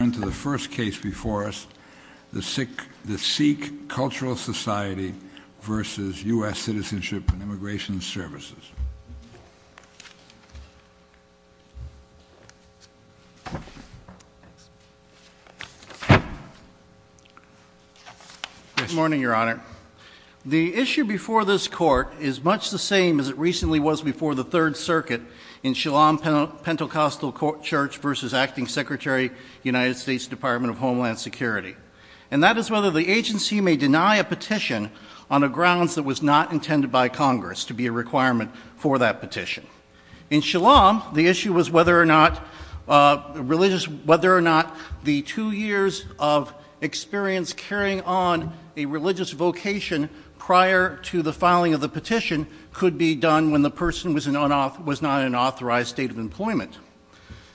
...into the first case before us, the Sikh Cultural Society vs. U.S. Citizenship and Immigration Services. Good morning, Your Honor. The issue before this court is much the same as it recently was before the Third Circuit in Shillong Pentecostal Church vs. Acting Secretary, United States Department of Homeland Security. And that is whether the agency may deny a petition on the grounds that was not intended by Congress to be a requirement for that petition. In Shillong, the issue was whether or not the two years of experience carrying on a religious vocation prior to the filing of the petition could be done when the person was not in an authorized state of employment.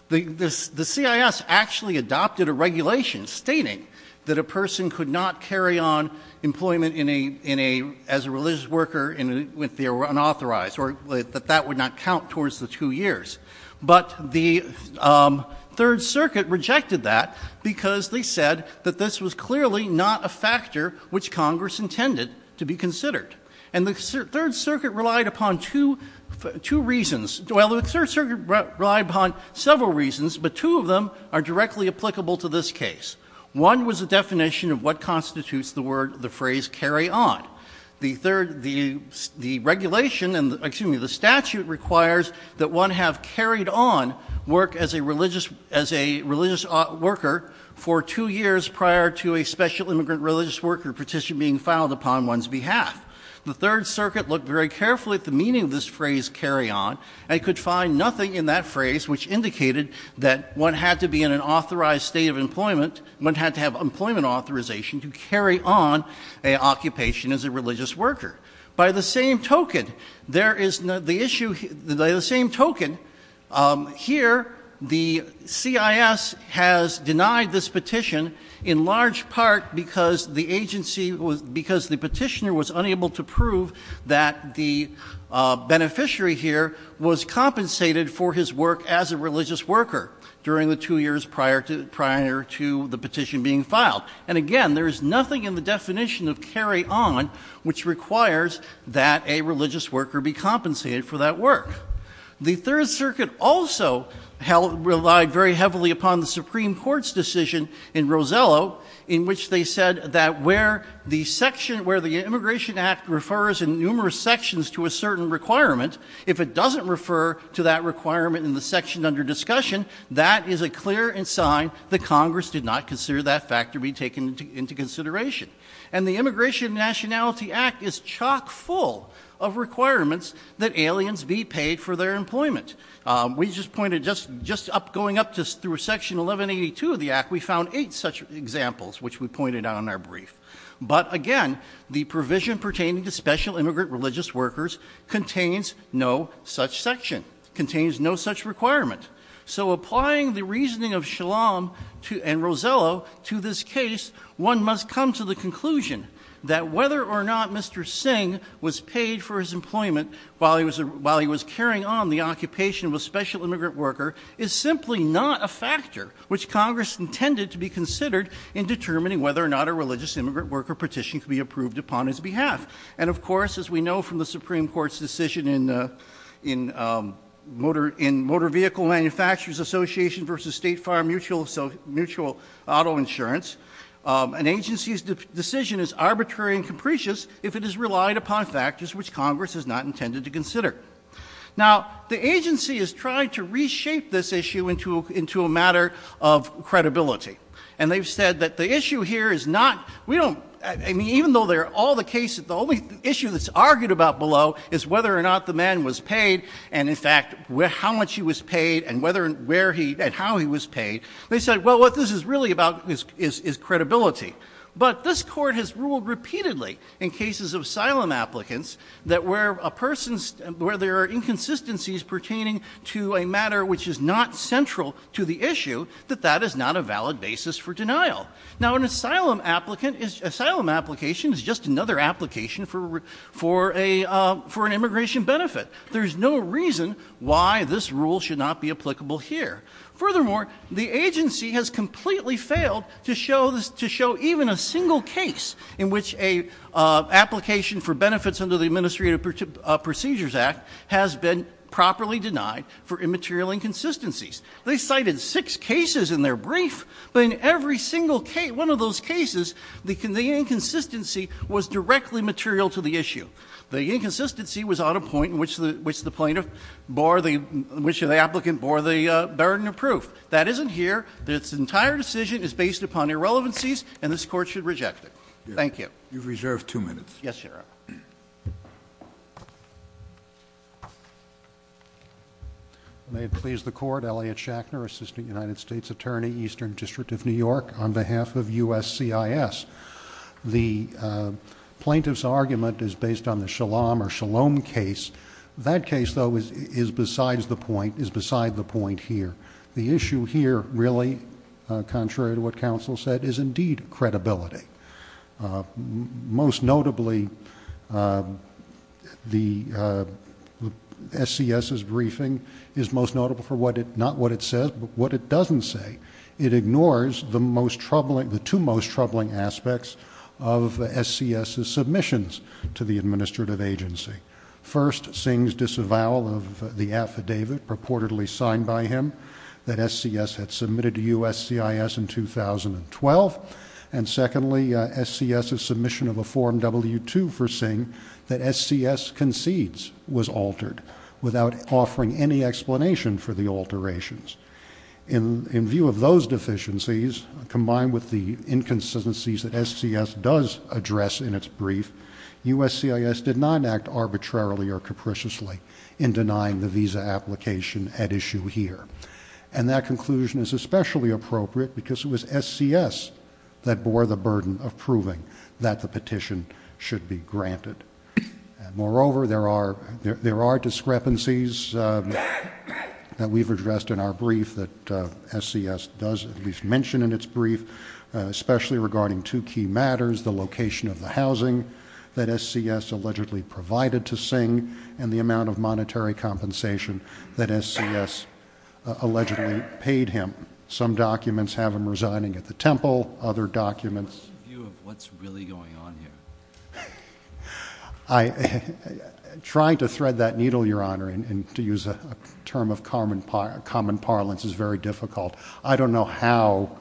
The CIS actually adopted a regulation stating that a person could not carry on employment as a religious worker if they were unauthorized, or that that would not count towards the two years. But the Third Circuit rejected that because they said that this was clearly not a factor which Congress intended to be considered. And the Third Circuit relied upon two reasons. Well, the Third Circuit relied upon several reasons, but two of them are directly applicable to this case. One was the definition of what constitutes the phrase, carry on. The regulation, excuse me, the statute requires that one have carried on work as a religious worker for two years prior to a special immigrant religious worker petition being filed upon one's behalf. The Third Circuit looked very carefully at the meaning of this phrase, carry on, and could find nothing in that phrase which indicated that one had to be in an authorized state of employment, one had to have employment authorization to carry on an occupation as a religious worker. By the same token, here the CIS has denied this petition in large part because the petitioner was unable to prove that the beneficiary here was compensated for his work as a religious worker during the two years prior to the petition being filed. And again, there is nothing in the definition of carry on which requires that a religious worker be compensated for that work. The Third Circuit also relied very heavily upon the Supreme Court's decision in Rosello in which they said that where the section, where the Immigration Act refers in numerous sections to a certain requirement, if it doesn't refer to that requirement in the section under discussion, that is a clear and sign that Congress did not consider that factor be taken into consideration. And the Immigration and Nationality Act is chock full of requirements that aliens be paid for their employment. We just pointed, just going up through section 1182 of the Act, we found eight such examples which we pointed out in our brief. But again, the provision pertaining to special immigrant religious workers contains no such section, contains no such requirement. So applying the reasoning of Shalom and Rosello to this case, one must come to the conclusion that whether or not Mr. Singh was paid for his employment while he was carrying on the occupation of a special immigrant worker is simply not a factor which Congress intended to be considered in determining whether or not a religious immigrant worker petition could be approved upon his behalf. And of course, as we know from the Supreme Court's decision in Motor Vehicle Manufacturers Association versus State Farm Mutual Auto Insurance, an agency's decision is arbitrary and capricious if it is relied upon factors which Congress has not intended to consider. Now, the agency has tried to reshape this issue into a matter of credibility. And they've said that the issue here is not, we don't, I mean, even though they're all the cases, the only issue that's argued about below is whether or not the man was paid and in fact, how much he was paid and whether and where he, and how he was paid. They said, well, what this is really about is credibility. But this court has ruled repeatedly in cases of asylum applicants that where a person, where there are inconsistencies pertaining to a matter which is not central to the issue, that that is not a valid basis for denial. Now, an asylum applicant, an asylum application is just another application for an immigration benefit. There's no reason why this rule should not be applicable here. Furthermore, the agency has completely failed to show even a single case in which an application for benefits under the Administrative Procedures Act has been properly denied for immaterial inconsistencies. They cited six cases in their brief, but in every single case, one of those cases, the inconsistency was directly material to the issue. The inconsistency was at a point in which the plaintiff bore the, which the applicant bore the burden of proof. That isn't here. This entire decision is based upon irrelevancies, and this court should reject it. Thank you. You've reserved two minutes. Yes, Your Honor. May it please the Court, Elliot Shachner, Assistant United States Attorney, Eastern District of New York, on behalf of USCIS. The plaintiff's argument is based on the Shalom or Shalom case. That case, though, is besides the point, is beside the point here. The issue here, really, contrary to what counsel said, is indeed credibility. Most notably, the SCS's briefing is most notable for what it, not what it says, but what it doesn't say. It ignores the most troubling, the two most troubling aspects of SCS's submissions to the administrative agency. First, Singh's disavowal of the affidavit purportedly signed by him that SCS had submitted to USCIS in 2012, and secondly, SCS's submission of a Form W-2 for Singh that SCS concedes was altered, without offering any explanation for the alterations. In view of those deficiencies, combined with the inconsistencies that SCS does address in its brief, USCIS did not act arbitrarily or capriciously in denying the visa application at issue here. And that conclusion is especially appropriate because it was SCS that bore the burden of proving that the petition should be granted. Moreover, there are discrepancies that we've addressed in our brief that SCS does at least mention in its brief, especially regarding two key matters, the location of the housing that SCS allegedly provided to Singh, and the amount of monetary compensation that SCS allegedly paid him. Some documents have him resigning at the temple, other documents... What's your view of what's really going on here? Trying to thread that needle, Your Honor, and to use a term of common parlance is very difficult. I don't know how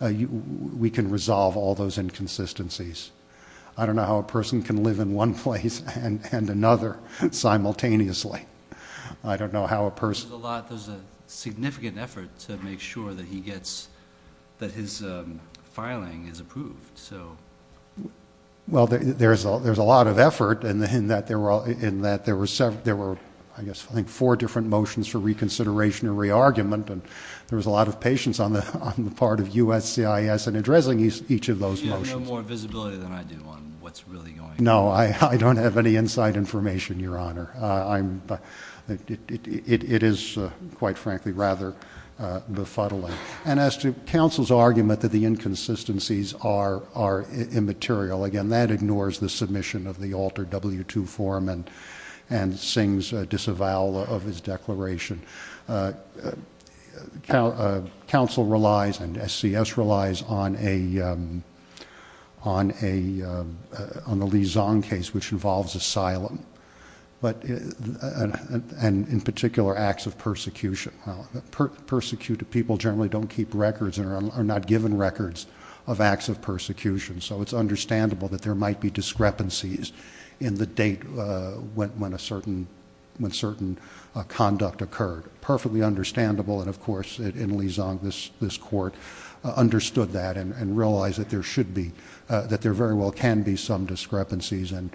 we can resolve all those inconsistencies. I don't know how a person can live in one place and another simultaneously. I don't know how a person... There's a significant effort to make sure that his filing is approved. Well, there's a lot of effort in that there were, I guess, four different motions for reconsideration and re-argument, and there was a lot of patience on the part of USCIS in addressing each of those motions. You have more visibility than I do on what's really going on. No, I don't have any inside information, Your Honor. It is, quite frankly, rather befuddling. And as to counsel's argument that the inconsistencies are immaterial, again, that ignores the submission of the altered W-2 form and Singh's disavowal of his declaration. Counsel relies, and SCS relies, on the Li Zong case, which involves asylum. And, in particular, acts of persecution. Well, persecuted people generally don't keep records or are not given records of acts of persecution, so it's understandable that there might be discrepancies in the date when certain conduct occurred. Perfectly understandable, and, of course, in Li Zong, this court understood that and realized that there very well can be some discrepancies and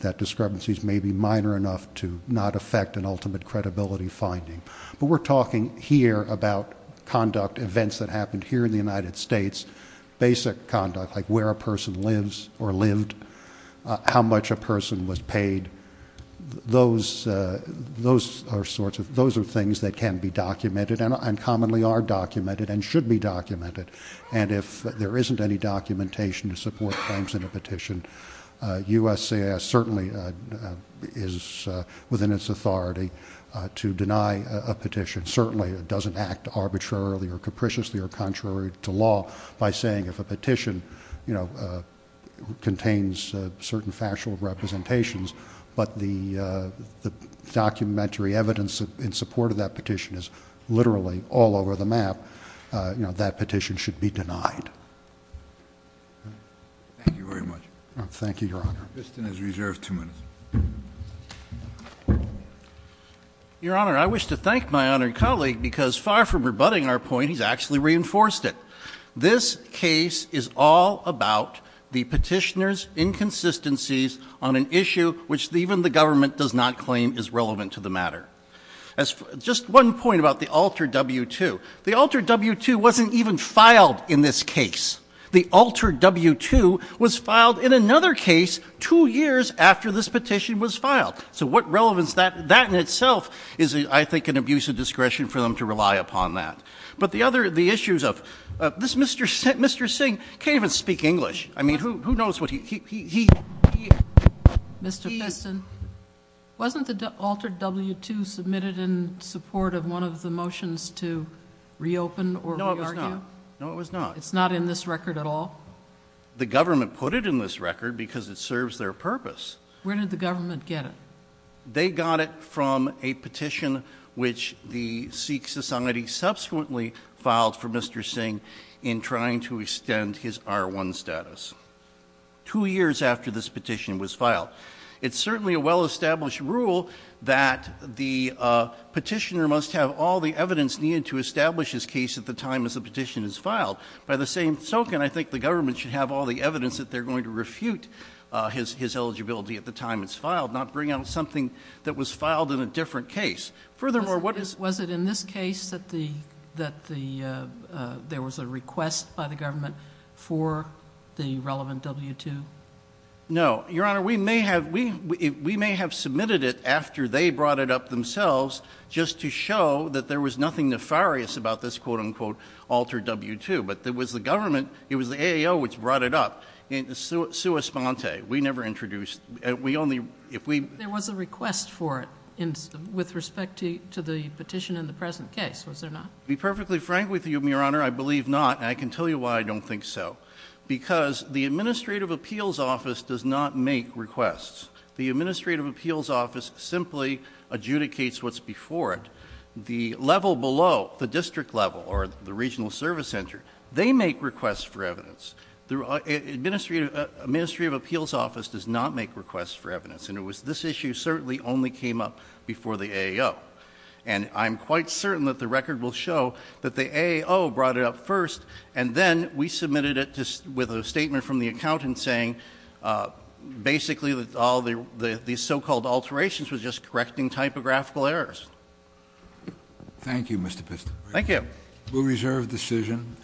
that discrepancies may be minor enough to not affect an ultimate credibility finding. But we're talking here about conduct events that happened here in the United States, basic conduct, like where a person lives or lived, how much a person was paid. Those are things that can be documented and commonly are documented and should be documented. And if there isn't any documentation to support claims in a petition, USCIS certainly is within its authority to deny a petition. Certainly it doesn't act arbitrarily or capriciously or contrary to law by saying if a petition contains certain factual representations but the documentary evidence in support of that petition is literally all over the map, that petition should be denied. Thank you very much. Thank you, Your Honor. Mr. Biston is reserved two minutes. Your Honor, I wish to thank my honored colleague because far from rebutting our point, he's actually reinforced it. This case is all about the petitioner's inconsistencies on an issue which even the government does not claim is relevant to the matter. Just one point about the Alter W-2. The Alter W-2 wasn't even filed in this case. The Alter W-2 was filed in another case two years after this petition was filed. So what relevance that in itself is, I think, an abuse of discretion for them to rely upon that. But the issues of this Mr. Singh can't even speak English. I mean, who knows what he... Mr. Biston, wasn't the Alter W-2 submitted in support of one of the motions to reopen or re-argue? No, it was not. It's not in this record at all? The government put it in this record because it serves their purpose. Where did the government get it? They got it from a petition which the Sikh Society subsequently filed for Mr. Singh in trying to extend his R-1 status. Two years after this petition was filed. It's certainly a well-established rule that the petitioner must have all the evidence needed to establish his case at the time as the petition is filed. By the same token, I think the government should have all the evidence that they're going to refute his eligibility at the time it's filed, not bring out something that was filed in a different case. Was it in this case that there was a request by the government for the relevant W-2? No. Your Honor, we may have submitted it after they brought it up themselves just to show that there was nothing nefarious about this quote-unquote Alter W-2. But it was the government, it was the A.A.O. which brought it up. We never introduced it. There was a request for it with respect to the petition in the present case, was there not? To be perfectly frank with you, Your Honor, I believe not, and I can tell you why I don't think so. Because the Administrative Appeals Office does not make requests. The Administrative Appeals Office simply adjudicates what's before it. The level below, the district level or the Regional Service Center, they make requests for evidence. The Administrative Appeals Office does not make requests for evidence. And it was this issue certainly only came up before the A.A.O. And I'm quite certain that the record will show that the A.A.O. brought it up first and then we submitted it with a statement from the accountant saying basically that all these so-called alterations were just correcting typographical errors. Thank you, Mr. Piston. Thank you. We'll reserve the decision.